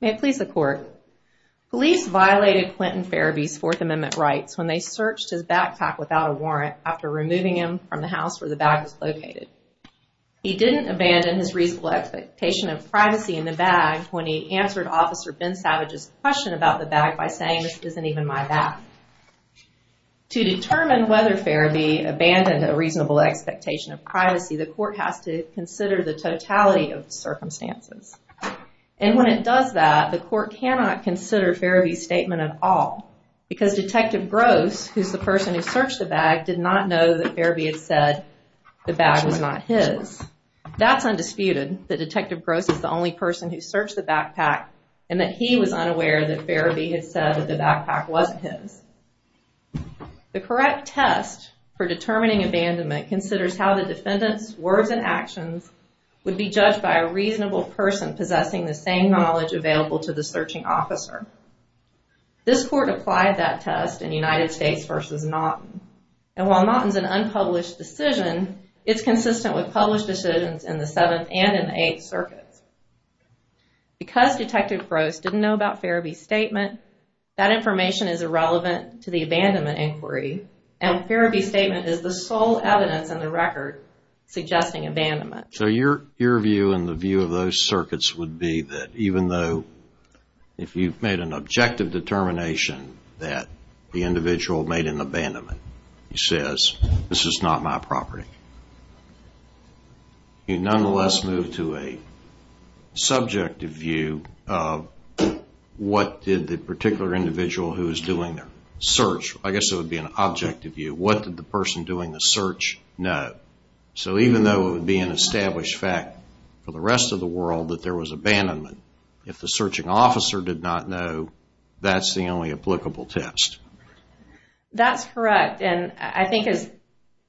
May it please the court. Police violated Quentin Ferebee's Fourth Amendment rights when they searched his backpack without a warrant after removing him from the house where the bag was located. He didn't abandon his reasonable expectation of privacy in the bag when he answered Officer Ben Savage's question about the bag by saying this isn't even my bag. To determine whether Ferebee abandoned a reasonable expectation of privacy, the court has to consider the totality of the circumstances. And when it does that, the court cannot consider Ferebee's statement at all because Detective Gross, who's the person who searched the bag, did not know that Ferebee had said the bag was not his. That's undisputed that Detective Gross is the only person who searched the backpack and that he was unaware that Ferebee had said that the backpack wasn't his. The correct test for determining abandonment considers how the defendant's words and actions would be judged by a reasonable person possessing the same knowledge available to the searching officer. This court applied that test in United States v. Naughton. And while Naughton's an unpublished decision, it's consistent with published decisions in the Seventh and in the Eighth Circuits. Because Detective Gross didn't know about Ferebee's statement, that information is irrelevant to the abandonment inquiry and Ferebee's statement is the sole evidence in the record suggesting abandonment. So your view and the view of those circuits would be that even though if you've made an objective determination that the individual made an abandonment, he says, this is not my property. You nonetheless move to a subjective view of what did the particular individual who was doing the search, I guess it would be an objective view, what did the person doing the search know? So even though it would be an established fact for the rest of the world that there was abandonment, if the searching officer did not know, that's the only applicable test. That's correct. And I think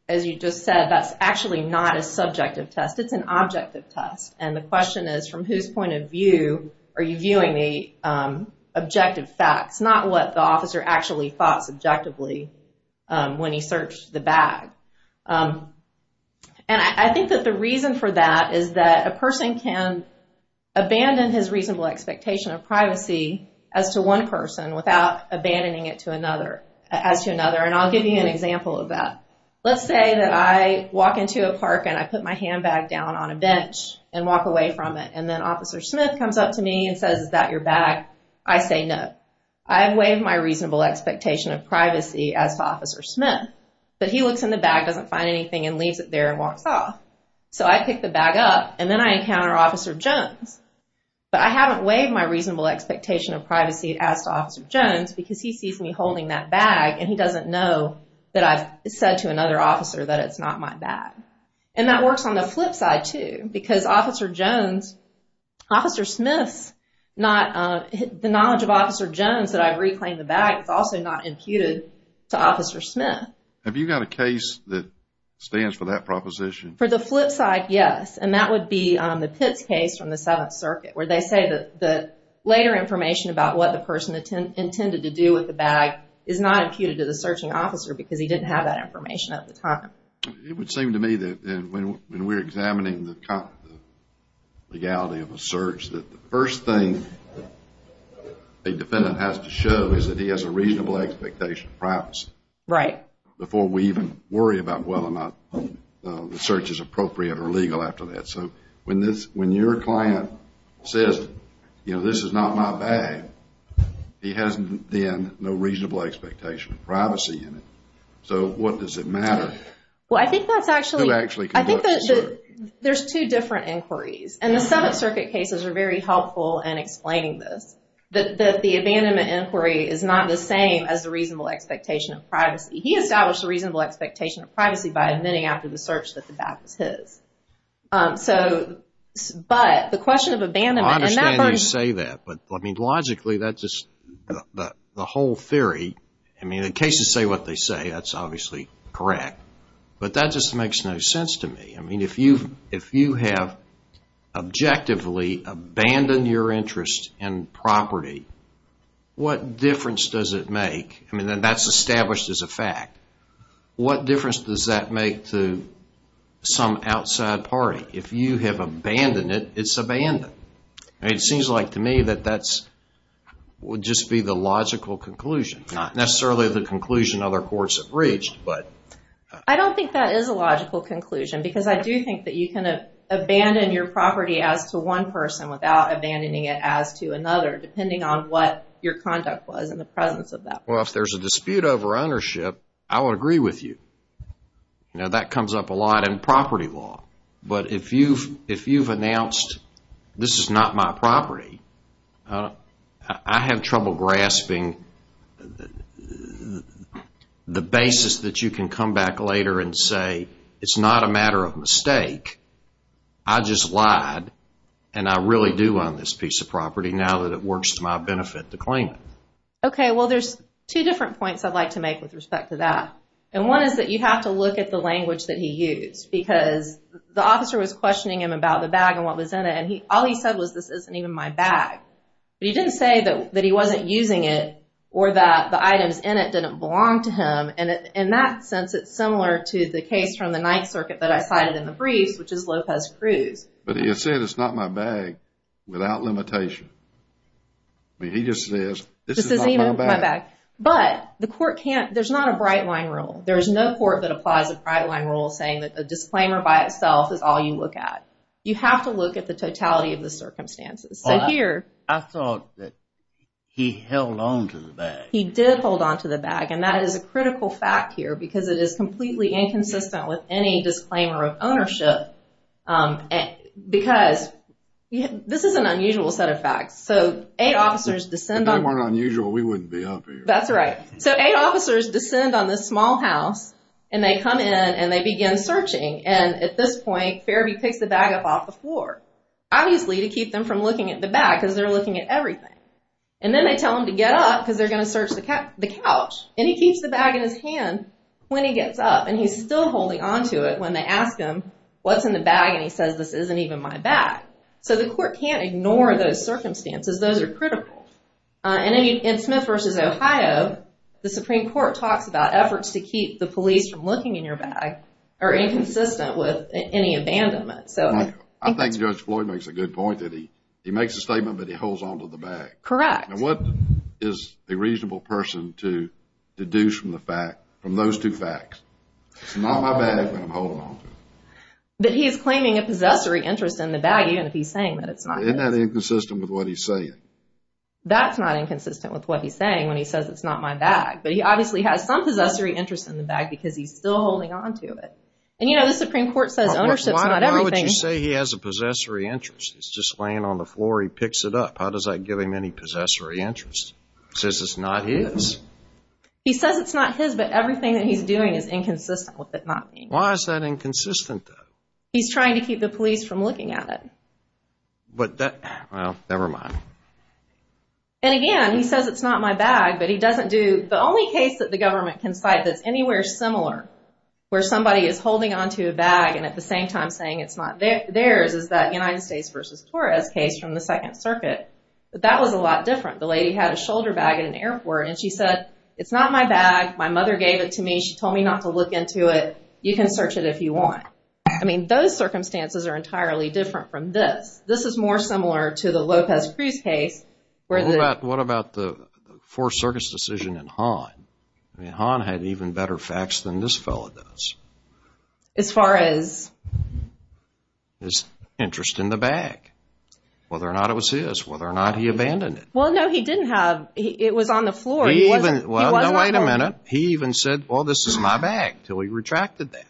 as you just said, that's actually not a subjective test. It's an objective test. And the question is from whose point of view are you viewing the objective facts, not what the officer actually thought subjectively when he searched the bag. And I think that the reason for that is that a person can abandon his reasonable expectation of privacy as to one person without abandoning it to another, as to another. And I'll give you an example of that. Let's say that I walk into a park and I put my handbag down on a bench and walk away from it and then Officer Smith comes up to me and says, is that your bag? I say no. I have waived my reasonable expectation of privacy as to Officer Smith. But he looks in the bag, doesn't find anything, and leaves it there and walks off. So I pick the bag up and then I encounter Officer Jones. But I haven't waived my reasonable expectation of privacy as to Officer Jones because he sees me holding that bag and he doesn't know that I've said to another officer that it's not my bag. And that works on the flip side too because Officer Jones, Officer Smith's not, the knowledge of Officer Jones that I've reclaimed the bag is also not imputed to Officer Smith. Have you got a case that stands for that proposition? For the flip side, yes. And that would be the Pitts case from the Seventh Circuit where they say that the later information about what the person intended to do with the bag is not imputed to the searching officer because he didn't have that information at the time. It would seem to me that when we're examining the legality of a search that the first thing a defendant has to show is that he has a reasonable expectation of privacy. Right. Before we even worry about whether or not the search is appropriate or legal after that. So, when your client says, you know, this is not my bag, he has then no reasonable expectation of privacy in it. So, what does it matter? Well, I think that's actually... Who actually conducts the search? I think that there's two different inquiries. And the Seventh Circuit cases are very helpful in explaining this. That the abandonment inquiry is not the same as the reasonable expectation of privacy. He established a reasonable expectation of privacy by admitting after the search that the bag was his. So, but the question of abandonment... I understand you say that. But, I mean, logically that's just the whole theory. I mean, the cases say what they say. That's obviously correct. But that just makes no sense to me. I mean, if you have objectively abandoned your interest in property, what difference does it make? I mean, that's established as a fact. What difference does that make to some outside party? If you have abandoned it, it's abandoned. I mean, it seems like to me that that would just be the logical conclusion. Not necessarily the conclusion other courts have reached, but... I don't think that is a logical conclusion. Because I do think that you can abandon your property as to one person without abandoning it as to another. Depending on what your conduct was in the presence of that person. Well, if there's a dispute over ownership, I would agree with you. You know, that comes up a lot in property law. But if you've announced, this is not my property, I have trouble grasping the basis that you can come back later and say, it's not a matter of mistake, I just lied, and I really do own this piece of property now that it works to my benefit to claim it. Okay, well, there's two different points I'd like to make with respect to that. And one is that you have to look at the language that he used. Because the officer was questioning him about the bag and what was in it, and all he said was, this isn't even my bag. But he didn't say that he wasn't using it or that the items in it didn't belong to him. And in that sense, it's similar to the case from the Ninth Circuit that I cited in the briefs, which is Lopez Cruz. But he said, it's not my bag, without limitation. I mean, he just says, this is not my bag. But the court can't, there's not a bright line rule. There is no court that applies a bright line rule saying that a disclaimer by itself is all you look at. You have to look at the totality of the circumstances. I thought that he held on to the bag. He did hold on to the bag, and that is a critical fact here because it is completely inconsistent with any disclaimer of ownership. Because this is an unusual set of facts. So, eight officers descend on... If they weren't unusual, we wouldn't be up here. That's right. So, eight officers descend on this small house, and they come in and they begin searching. And at this point, Farabee picks the bag up off the floor, obviously to keep them from looking at the bag because they're looking at everything. And then they tell him to get up because they're going to search the couch. And he keeps the bag in his hand when he gets up. And he's still holding on to it when they ask him, what's in the bag? And he says, this isn't even my bag. So, the court can't ignore those circumstances. Those are critical. And in Smith v. Ohio, the Supreme Court talks about efforts to keep the police from looking in your bag are inconsistent with any abandonment. I think Judge Floyd makes a good point that he makes a statement, but he holds on to the bag. Correct. And what is a reasonable person to deduce from the fact, from those two facts? It's not my bag, but I'm holding on to it. But he's claiming a possessory interest in the bag even if he's saying that it's not his. Isn't that inconsistent with what he's saying? That's not inconsistent with what he's saying when he says it's not my bag. But he obviously has some possessory interest in the bag because he's still holding on to it. And, you know, the Supreme Court says ownership's not everything. Why would you say he has a possessory interest? He's just laying on the floor. He picks it up. How does that give him any possessory interest? He says it's not his. He says it's not his, but everything that he's doing is inconsistent with it not being. Why is that inconsistent, though? He's trying to keep the police from looking at it. But that, well, never mind. And, again, he says it's not my bag, but he doesn't do. The only case that the government can cite that's anywhere similar where somebody is holding on to a bag and at the same time saying it's not theirs is that United States v. Torres case from the Second Circuit. But that was a lot different. The lady had a shoulder bag at an airport, and she said, it's not my bag. My mother gave it to me. She told me not to look into it. You can search it if you want. I mean, those circumstances are entirely different from this. This is more similar to the Lopez Cruz case. What about the Fourth Circuit's decision in Han? I mean, Han had even better facts than this fellow does. As far as? His interest in the bag, whether or not it was his, whether or not he abandoned it. Well, no, he didn't have. It was on the floor. Well, no, wait a minute. He even said, well, this is my bag, until he retracted that.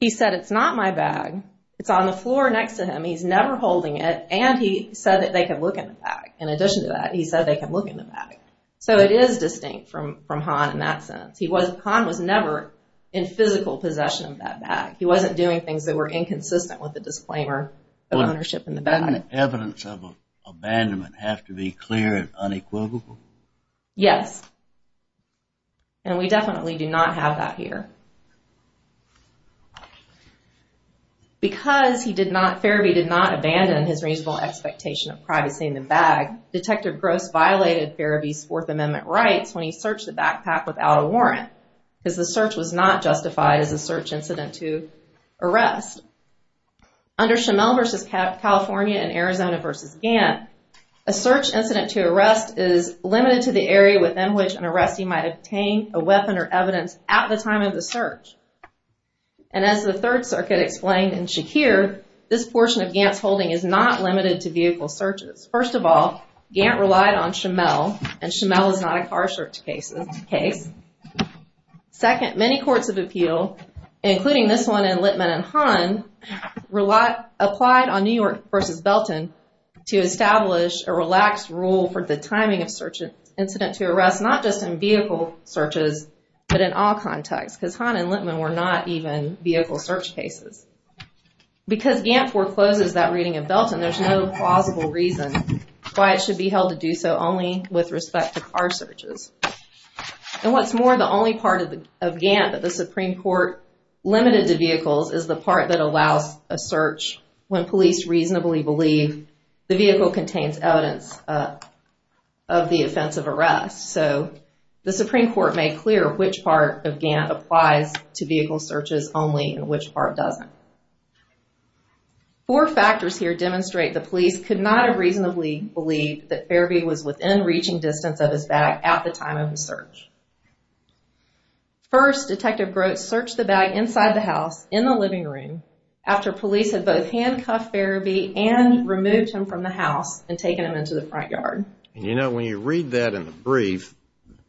He said, it's not my bag. It's on the floor next to him. He's never holding it, and he said that they could look in the bag. In addition to that, he said they could look in the bag. So it is distinct from Han in that sense. Han was never in physical possession of that bag. He wasn't doing things that were inconsistent with the disclaimer of ownership in the bag. Doesn't evidence of abandonment have to be clear and unequivocal? Yes. And we definitely do not have that here. Because he did not, Ferebee did not abandon his reasonable expectation of privacy in the bag, Detective Gross violated Ferebee's Fourth Amendment rights when he searched the backpack without a warrant, because the search was not justified as a search incident to arrest. Under Schimel v. California and Arizona v. Gantt, a search incident to arrest is limited to the area within which an arrestee might obtain a weapon or evidence at the time of the search. And as the Third Circuit explained in Shakir, this portion of Gantt's holding is not limited to vehicle searches. First of all, Gantt relied on Schimel, and Schimel is not a car search case. Second, many courts of appeal, including this one in Littman and Han, applied on New York v. Belton to establish a relaxed rule for the timing of search incidents to arrest, not just in vehicle searches, but in all contexts, because Han and Littman were not even vehicle search cases. Because Gantt forecloses that reading of Belton, there's no plausible reason why it should be held to do so only with respect to car searches. And what's more, the only part of Gantt that the Supreme Court limited to vehicles is the part that allows a search when police reasonably believe the vehicle contains evidence of the offense of arrest. So, the Supreme Court made clear which part of Gantt applies to vehicle searches only and which part doesn't. Four factors here demonstrate the police could not have reasonably believed that Fairby was within reaching distance of his bag at the time of the search. First, Detective Groats searched the bag inside the house, in the living room, after police had both handcuffed Fairby and removed him from the house and taken him into the front yard. You know, when you read that in the brief,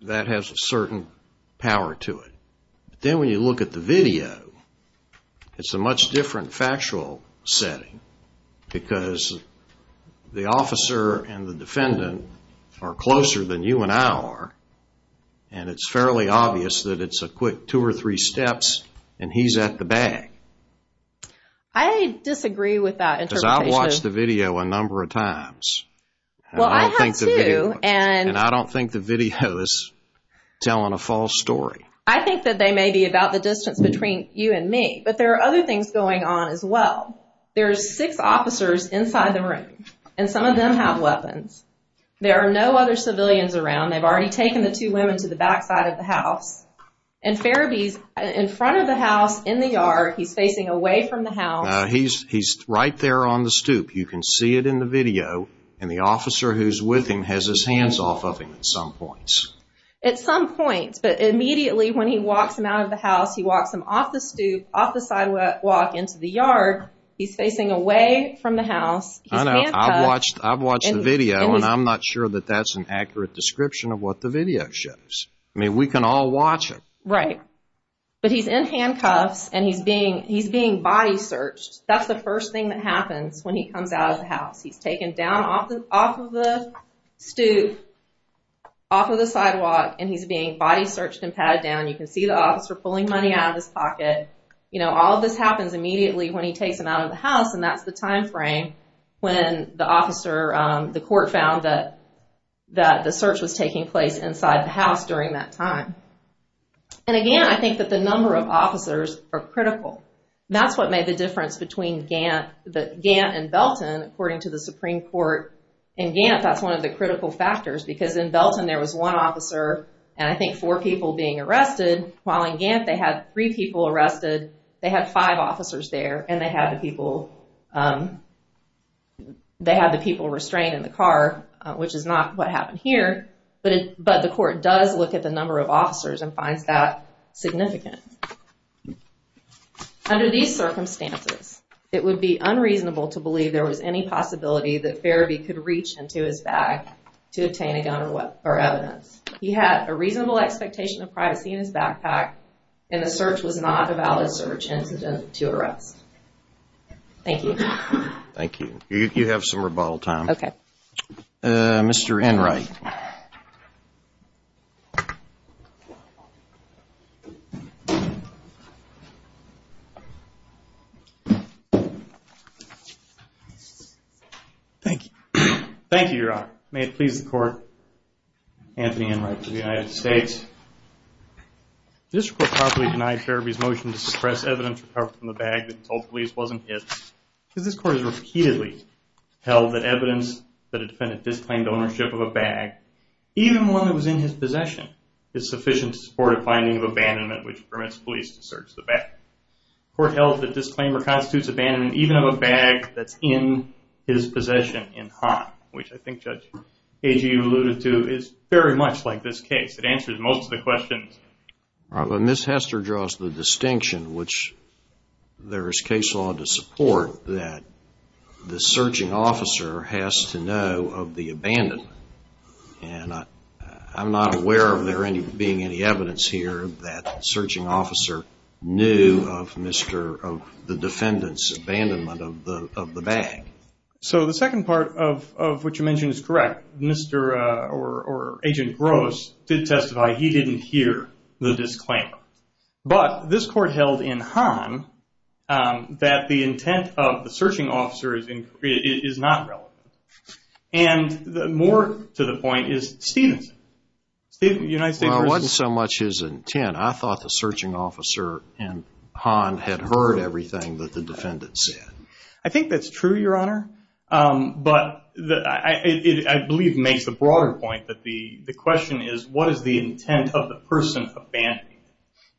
that has a certain power to it. But then when you look at the video, it's a much different factual setting because the officer and the defendant are closer than you and I are, and it's fairly obvious that it's a quick two or three steps and he's at the bag. I disagree with that interpretation. Because I've watched the video a number of times. Well, I have too. And I don't think the video is telling a false story. I think that they may be about the distance between you and me. But there are other things going on as well. There are six officers inside the room, and some of them have weapons. There are no other civilians around. They've already taken the two women to the backside of the house. And Fairby's in front of the house, in the yard. He's facing away from the house. He's right there on the stoop. You can see it in the video. And the officer who's with him has his hands off of him at some point. At some point, but immediately when he walks him out of the house, he walks him off the stoop, off the sidewalk, into the yard. He's facing away from the house. He's handcuffed. I know. I've watched the video, and I'm not sure that that's an accurate description of what the video shows. I mean, we can all watch it. Right. But he's in handcuffs, and he's being body searched. That's the first thing that happens when he comes out of the house. He's taken down off of the stoop, off of the sidewalk, and he's being body searched and patted down. You can see the officer pulling money out of his pocket. You know, all of this happens immediately when he takes him out of the house, and that's the time frame when the officer, the court, found that the search was taking place inside the house during that time. And, again, I think that the number of officers are critical. That's what made the difference between Gant and Belton, according to the Supreme Court. In Gant, that's one of the critical factors, because in Belton there was one officer and I think four people being arrested, while in Gant they had three people arrested, they had five officers there, and they had the people restrained in the car, But the court does look at the number of officers and finds that significant. Under these circumstances, it would be unreasonable to believe there was any possibility that Ferebee could reach into his bag to obtain a gun or evidence. He had a reasonable expectation of privacy in his backpack, and the search was not a valid search incident to arrest. Thank you. Thank you. You have some rebuttal time. Okay. Mr. Enright. Thank you. Thank you, Your Honor. May it please the Court, Anthony Enright for the United States. This report properly denies Ferebee's motion to suppress evidence recovered from the bag that he told police wasn't his, because this Court has repeatedly held that evidence that had defended disclaimed ownership of a bag, even one that was in his possession, is sufficient to support a finding of abandonment, which permits police to search the bag. The Court held that disclaimer constitutes abandonment even of a bag that's in his possession in hot, which I think Judge Agee alluded to, is very much like this case. It answers most of the questions. Ms. Hester draws the distinction, which there is case law to support, that the searching officer has to know of the abandonment. I'm not aware of there being any evidence here that the searching officer knew of the defendant's abandonment of the bag. So the second part of what you mentioned is correct. Agent Gross did testify he didn't hear the disclaimer. But this Court held in Hahn that the intent of the searching officer is not relevant. And more to the point is Stevenson. Well, it wasn't so much his intent. I thought the searching officer in Hahn had heard everything that the defendant said. I think that's true, Your Honor. But I believe it makes the broader point that the question is, what is the intent of the person abandoning?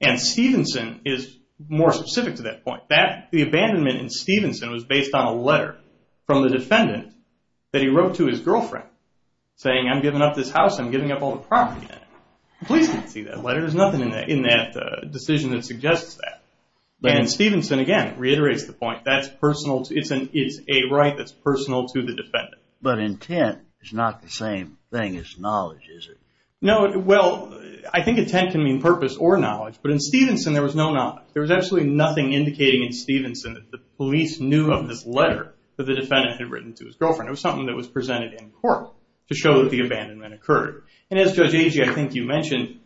And Stevenson is more specific to that point. The abandonment in Stevenson was based on a letter from the defendant that he wrote to his girlfriend saying, I'm giving up this house, I'm giving up all the property. The police didn't see that letter. There's nothing in that decision that suggests that. And Stevenson, again, reiterates the point. It's a right that's personal to the defendant. But intent is not the same thing as knowledge, is it? No, well, I think intent can mean purpose or knowledge. But in Stevenson, there was no knowledge. There was absolutely nothing indicating in Stevenson that the police knew of this letter that the defendant had written to his girlfriend. It was something that was presented in court to show that the abandonment occurred. And as, Judge Agee, I think you mentioned,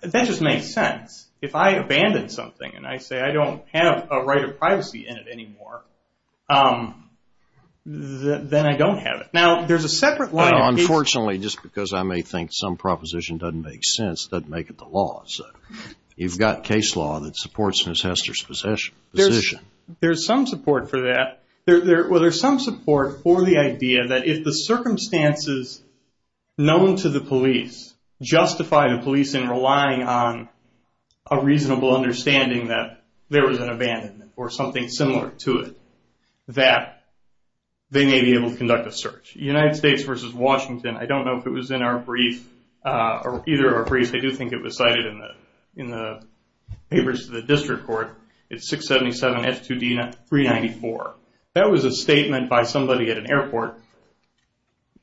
that just makes sense. If I abandon something and I say I don't have a right of privacy in it anymore, then I don't have it. Now, there's a separate line of case... Unfortunately, just because I may think some proposition doesn't make sense, doesn't make it the law. You've got case law that supports Ms. Hester's position. There's some support for that. Well, there's some support for the idea that if the circumstances known to the police justify the police in relying on a reasonable understanding that there was an abandonment or something similar to it, that they may be able to conduct a search. United States v. Washington, I don't know if it was in our brief, either of our briefs, I do think it was cited in the papers to the district court. It's 677S2D394. That was a statement by somebody at an airport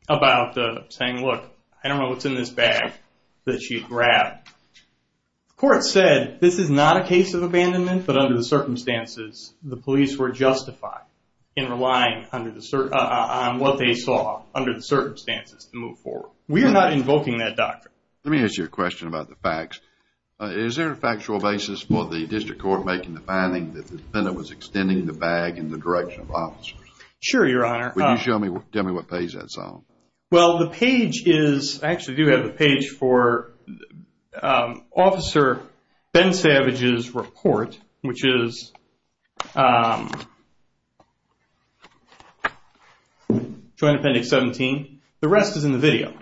about saying, look, I don't know what's in this bag that she grabbed. The court said, this is not a case of abandonment, but under the circumstances, the police were justified in relying on what they saw under the circumstances to move forward. We are not invoking that doctrine. Let me ask you a question about the facts. Is there a factual basis for the district court making the finding that the defendant was extending the bag in the direction of officers? Sure, Your Honor. Can you tell me what page that's on? Well, the page is, I actually do have a page for Officer Ben Savage's report, which is Joint Appendix 17. The rest is in the video.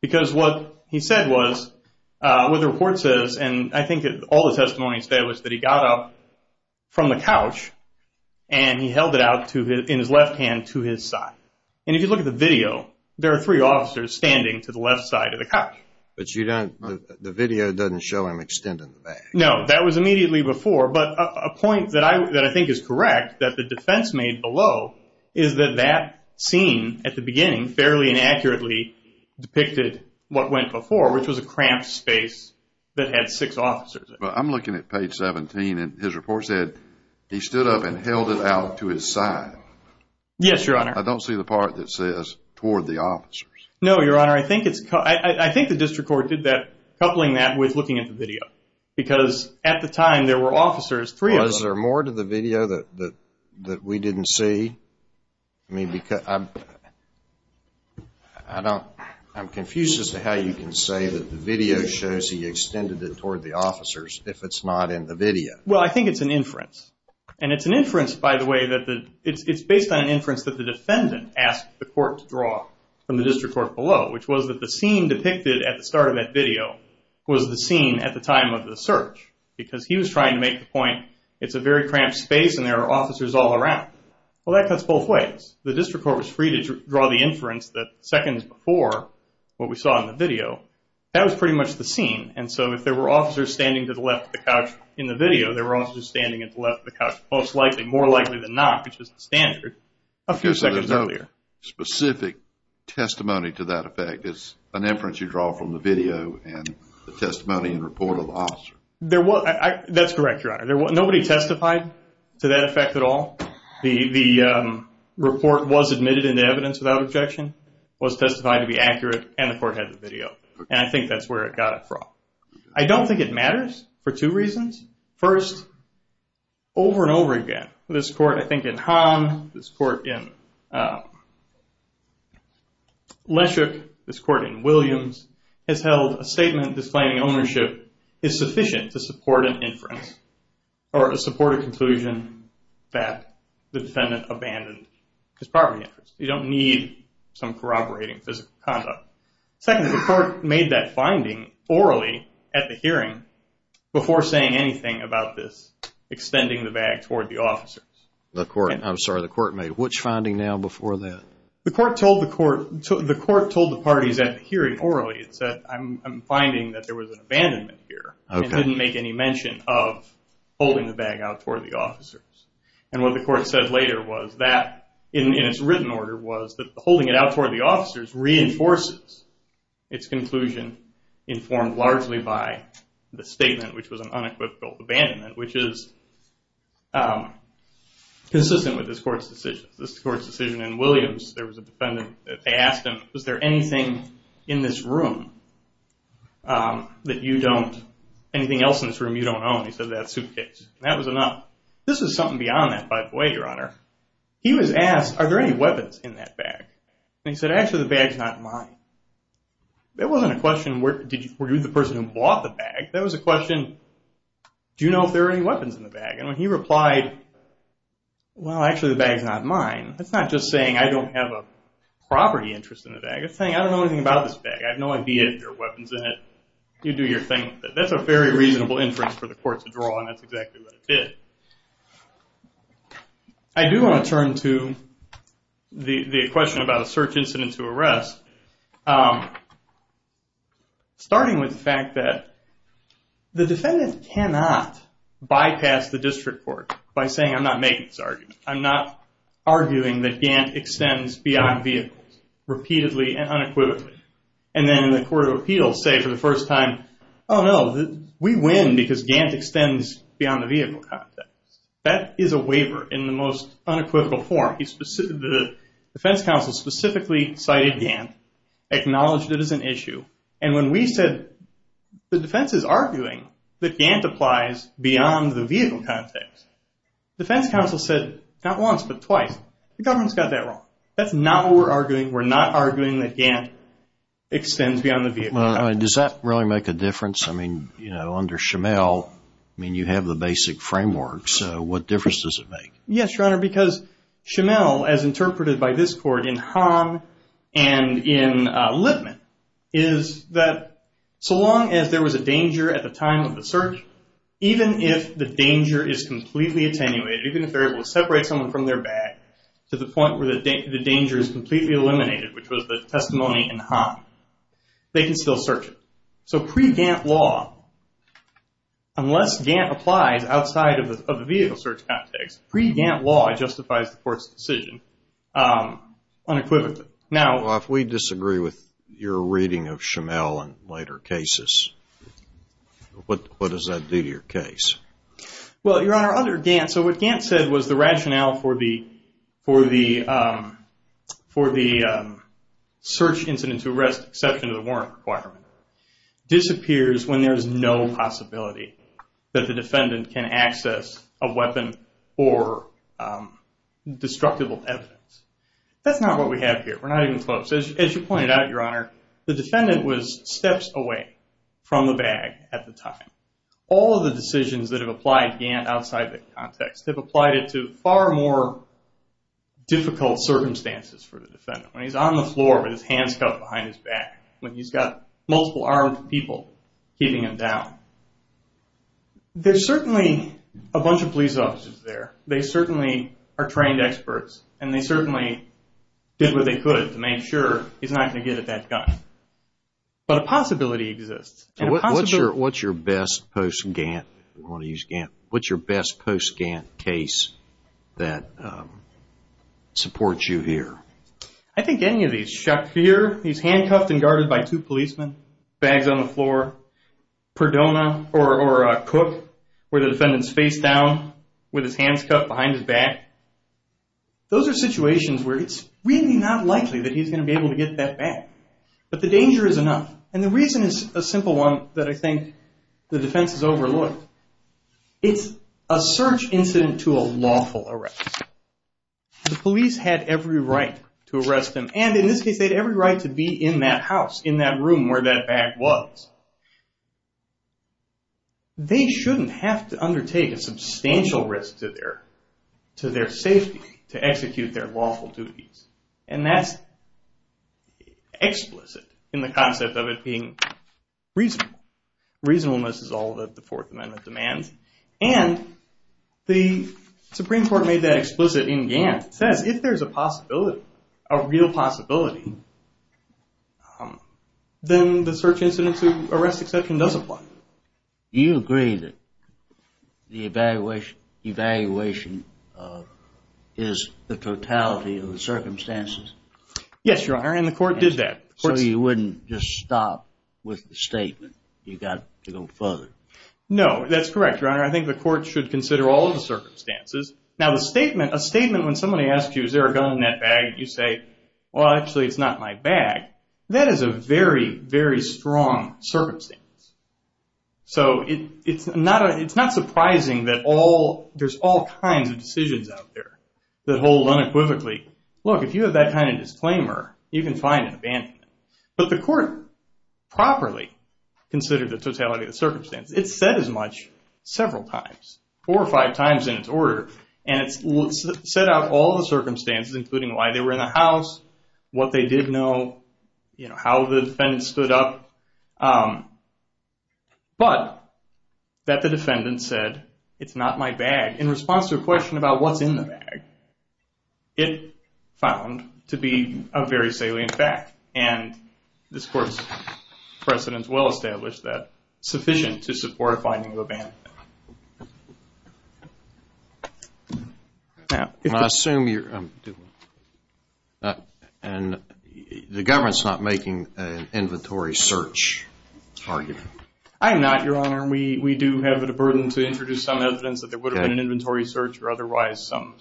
Because what he said was, what the report says, and I think all the testimony he said was that he got up from the couch and he held it out in his left hand to his side. And if you look at the video, there are three officers standing to the left side of the couch. But the video doesn't show him extending the bag. No, that was immediately before. But a point that I think is correct, that the defense made below, is that that scene at the beginning fairly and accurately depicted what went before, which was a cramped space that had six officers. But I'm looking at page 17, and his report said he stood up and held it out to his side. Yes, Your Honor. I don't see the part that says toward the officers. No, Your Honor. I think the district court did that, coupling that with looking at the video. Because at the time there were officers, three of them. Was there more to the video that we didn't see? I'm confused as to how you can say that the video shows he extended it toward the officers if it's not in the video. Well, I think it's an inference. And it's an inference, by the way, it's based on an inference that the defendant asked the court to draw from the district court below, which was that the scene depicted at the start of that video was the scene at the time of the search. Because he was trying to make the point it's a very cramped space and there are officers all around. Well, that cuts both ways. The district court was free to draw the inference that seconds before what we saw in the video, that was pretty much the scene. And so if there were officers standing to the left of the couch in the video, there were officers standing at the left of the couch most likely, more likely than not, which is the standard, a few seconds earlier. But there's no specific testimony to that effect. It's an inference you draw from the video and the testimony and report of the officer. That's correct, Your Honor. Nobody testified to that effect at all. The report was admitted into evidence without objection, was testified to be accurate, and the court had the video. And I think that's where it got it from. I don't think it matters for two reasons. First, over and over again, this court, I think, in Hahn, this court in Leschuk, this court in Williams, has held a statement disclaiming ownership is sufficient to support an inference or to support a conclusion that the defendant abandoned his property. You don't need some corroborating physical conduct. Second, the court made that finding orally at the hearing before saying anything about this extending the bag toward the officers. I'm sorry, the court made which finding now before that? The court told the parties at the hearing orally, it said, I'm finding that there was an abandonment here. It didn't make any mention of holding the bag out toward the officers. And what the court said later was that, in its written order, was that holding it out toward the officers reinforces its conclusion informed largely by the statement, which was an unequivocal abandonment, which is consistent with this court's decision. This court's decision in Williams, there was a defendant that they asked him, was there anything in this room that you don't, anything else in this room you don't own? He said, that suitcase. And that was enough. This was something beyond that, by the way, Your Honor. He was asked, are there any weapons in that bag? And he said, actually, the bag's not mine. That wasn't a question, were you the person who bought the bag? That was a question, do you know if there are any weapons in the bag? And when he replied, well, actually, the bag's not mine, that's not just saying I don't have a property interest in the bag. It's saying, I don't know anything about this bag. I have no idea if there are weapons in it. You do your thing with it. That's a very reasonable inference for the court to draw, and that's exactly what it did. I do want to turn to the question about a search incident to arrest, starting with the fact that the defendant cannot bypass the district court by saying, I'm not making this argument. I'm not arguing that Gantt extends beyond vehicles, repeatedly and unequivocally. And then the court of appeals say for the first time, oh no, we win because Gantt extends beyond the vehicle context. That is a waiver in the most unequivocal form. The defense counsel specifically cited Gantt, acknowledged it as an issue, and when we said the defense is arguing that Gantt applies beyond the vehicle context, the defense counsel said, not once, but twice, the government's got that wrong. That's not what we're arguing. We're not arguing that Gantt extends beyond the vehicle context. Does that really make a difference? I mean, you know, under Schimel, I mean, you have the basic framework, so what difference does it make? Yes, Your Honor, because Schimel, as interpreted by this court in Hahn and in Lipman, is that so long as there was a danger at the time of the search, even if the danger is completely attenuated, even if they're able to separate someone from their bag to the point where the danger is completely eliminated, which was the testimony in Hahn, they can still search it. So pre-Gantt law, unless Gantt applies outside of the vehicle search context, pre-Gantt law justifies the court's decision unequivocally. Well, if we disagree with your reading of Schimel in later cases, what does that do to your case? Well, Your Honor, under Gantt, so what Gantt said was the rationale for the search incident to arrest exception to the warrant requirement disappears when there's no possibility that the defendant can access a weapon or destructible evidence. That's not what we have here. We're not even close. As you pointed out, Your Honor, the defendant was steps away from the bag at the time. All of the decisions that have applied to Gantt outside the context have applied it to far more difficult circumstances for the defendant, when he's on the floor with his hands cuffed behind his back, when he's got multiple armed people keeping him down. There's certainly a bunch of police officers there. They certainly are trained experts, and they certainly did what they could to make sure he's not going to get at that gun. But a possibility exists. What's your best post-Gantt case that supports you here? I think any of these. Shafir, he's handcuffed and guarded by two policemen, bags on the floor. Perdona or Cook, where the defendant's face down with his hands cuffed behind his back. Those are situations where it's really not likely that he's going to be able to get that bag. But the danger is enough. And the reason is a simple one that I think the defense has overlooked. It's a search incident to a lawful arrest. The police had every right to arrest him, and in this case, they had every right to be in that house, in that room where that bag was. They shouldn't have to undertake a substantial risk to their safety to execute their lawful duties. And that's explicit in the concept of it being reasonable. Reasonableness is all that the Fourth Amendment demands. And the Supreme Court made that explicit in Gantt. It says if there's a possibility, a real possibility, then the search incident to arrest exception does apply. Do you agree that the evaluation is the totality of the circumstances? Yes, Your Honor, and the court did that. So you wouldn't just stop with the statement. You've got to go further. No, that's correct, Your Honor. I think the court should consider all of the circumstances. Now, a statement when somebody asks you, is there a gun in that bag, you say, well, actually, it's not in my bag, that is a very, very strong circumstance. So it's not surprising that all, there's all kinds of decisions out there that hold unequivocally, look, if you have that kind of disclaimer, you can find an abandonment. But the court properly considered the totality of the circumstances. It said as much several times, four or five times in its order, and it set out all the circumstances, including why they were in the house, what they did know, how the defendant stood up. But that the defendant said, it's not my bag, in response to a question about what's in the bag, it found to be a very salient fact. And this court's precedents well established that sufficient to support a finding of abandonment. I assume you're, and the government's not making an inventory search argument. I'm not, Your Honor. We do have the burden to introduce some evidence that there would have been an inventory search or otherwise some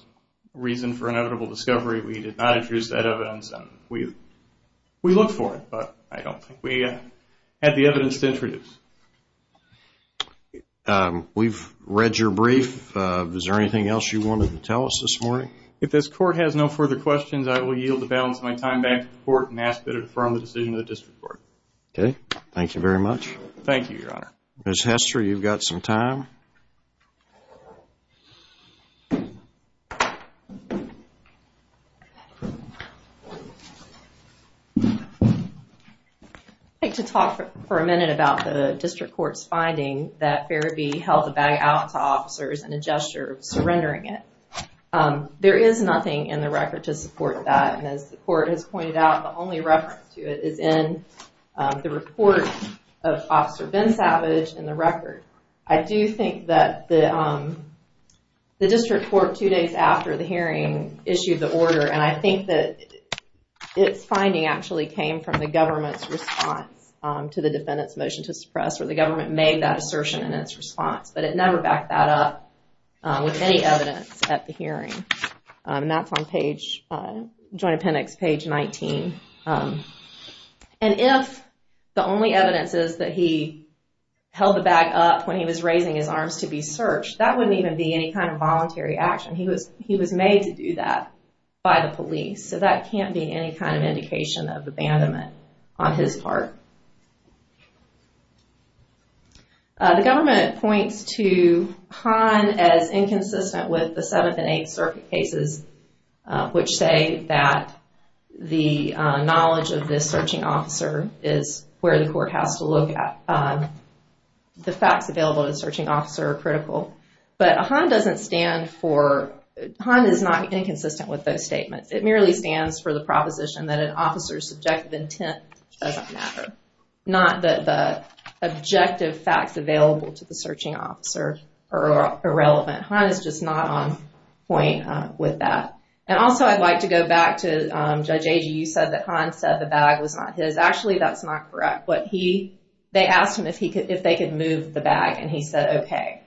reason for inevitable discovery. We did not introduce that evidence. We look for it, but I don't think we have the evidence to introduce. We've read your brief. Is there anything else you wanted to tell us this morning? If this court has no further questions, I will yield the balance of my time back to the court and ask that it confirm the decision of the district court. Okay. Thank you very much. Thank you, Your Honor. Ms. Hester, you've got some time. I'd like to talk for a minute about the district court's finding that Fairview held the bag out to officers in a gesture of surrendering it. There is nothing in the record to support that, and as the court has pointed out, the only reference to it is in the report of Officer Ben Savage in the record. I do think that the district court, two days after the hearing, issued the order, and I think that its finding actually came from the government's response to the defendant's motion to suppress, where the government made that assertion in its response, but it never backed that up with any evidence at the hearing. And that's on page, Joint Appendix, page 19. And if the only evidence is that he held the bag up when he was raising his arms to be searched, that wouldn't even be any kind of voluntary action. He was made to do that by the police, so that can't be any kind of indication of abandonment on his part. The government points to Hahn as inconsistent with the Seventh and Eighth Circuit cases, which say that the knowledge of this searching officer is where the court has to look at. The facts available to the searching officer are critical. But Hahn doesn't stand for... Hahn is not inconsistent with those statements. It merely stands for the proposition that an officer's subjective intent doesn't matter, not that the objective facts available to the searching officer are irrelevant. Hahn is just not on point with that. And also I'd like to go back to Judge Agee. You said that Hahn said the bag was not his. Actually, that's not correct. They asked him if they could move the bag, and he said, okay.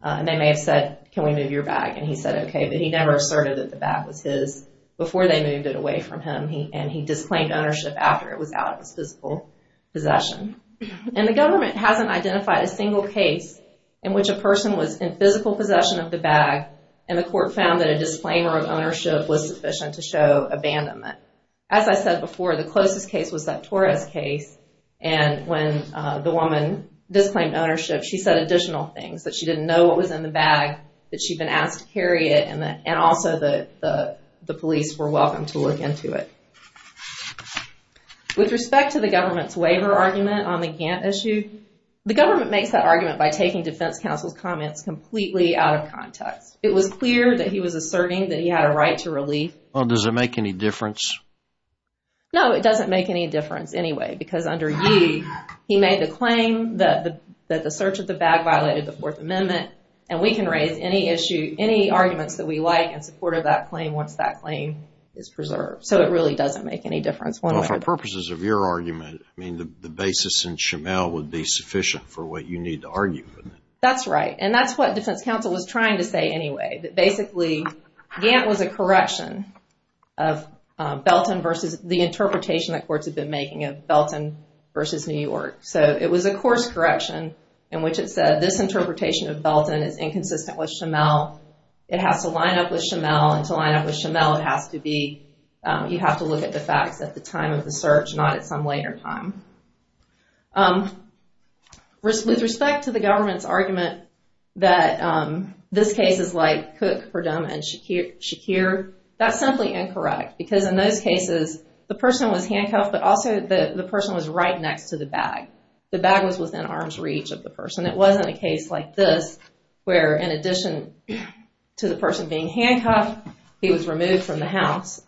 And they may have said, can we move your bag? And he said, okay, but he never asserted that the bag was his before they moved it away from him, and he disclaimed ownership after it was out of his physical possession. And the government hasn't identified a single case in which a person was in physical possession of the bag, and the court found that a disclaimer of ownership was sufficient to show abandonment. However, as I said before, the closest case was that Torres case, and when the woman disclaimed ownership, she said additional things, that she didn't know what was in the bag, that she'd been asked to carry it, and also the police were welcome to look into it. With respect to the government's waiver argument on the Gantt issue, the government makes that argument by taking defense counsel's comments completely out of context. It was clear that he was asserting that he had a right to relief. Well, does it make any difference? No, it doesn't make any difference anyway, because under you, he made the claim that the search of the bag violated the Fourth Amendment, and we can raise any issue, any arguments that we like in support of that claim once that claim is preserved. So, it really doesn't make any difference. Well, for purposes of your argument, I mean, the basis in Shimmel would be sufficient for what you need to argue, wouldn't it? That's right, and that's what defense counsel was trying to say anyway, that basically, Gantt was a correction of Belton versus the interpretation that courts have been making of Belton versus New York. So, it was a course correction in which it said, this interpretation of Belton is inconsistent with Shimmel. It has to line up with Shimmel, and to line up with Shimmel, it has to be, you have to look at the facts at the time of the search, not at some later time. With respect to the government's argument that this case is like Cook, Perdomo, and Shakir, that's simply incorrect, because in those cases, the person was handcuffed, but also the person was right next to the bag. The bag was within arm's reach of the person. It wasn't a case like this, where in addition to the person being handcuffed, he was removed from the house.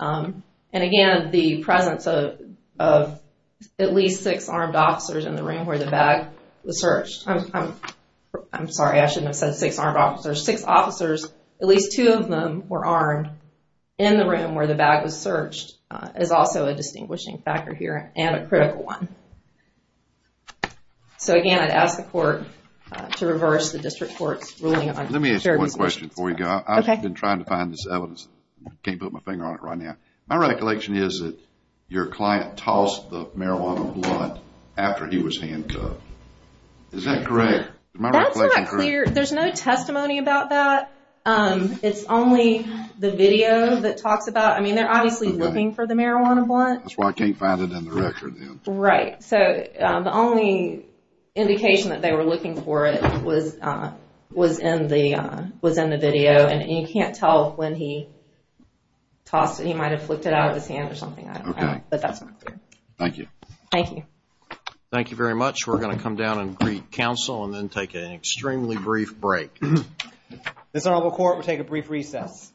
at least six armed officers in the room where the bag was searched. I'm sorry, I shouldn't have said six armed officers. Six officers, at least two of them were armed in the room where the bag was searched, is also a distinguishing factor here, and a critical one. So, again, I'd ask the court to reverse the district court's ruling on shared responsibility. Let me ask you one question before we go. I've been trying to find this evidence. Can't put my finger on it right now. My recollection is that your client tossed the marijuana blunt after he was handcuffed. Is that correct? Is my reflection correct? That's not clear. There's no testimony about that. It's only the video that talks about it. I mean, they're obviously looking for the marijuana blunt. That's why I can't find it in the record. Right. So, the only indication that they were looking for it was in the video, and you can't tell when he tossed it. He might have flicked it out of his hand or something. Okay. But that's not clear. Thank you. Thank you. Thank you very much. We're going to come down and greet counsel and then take an extremely brief break. This honorable court will take a brief recess.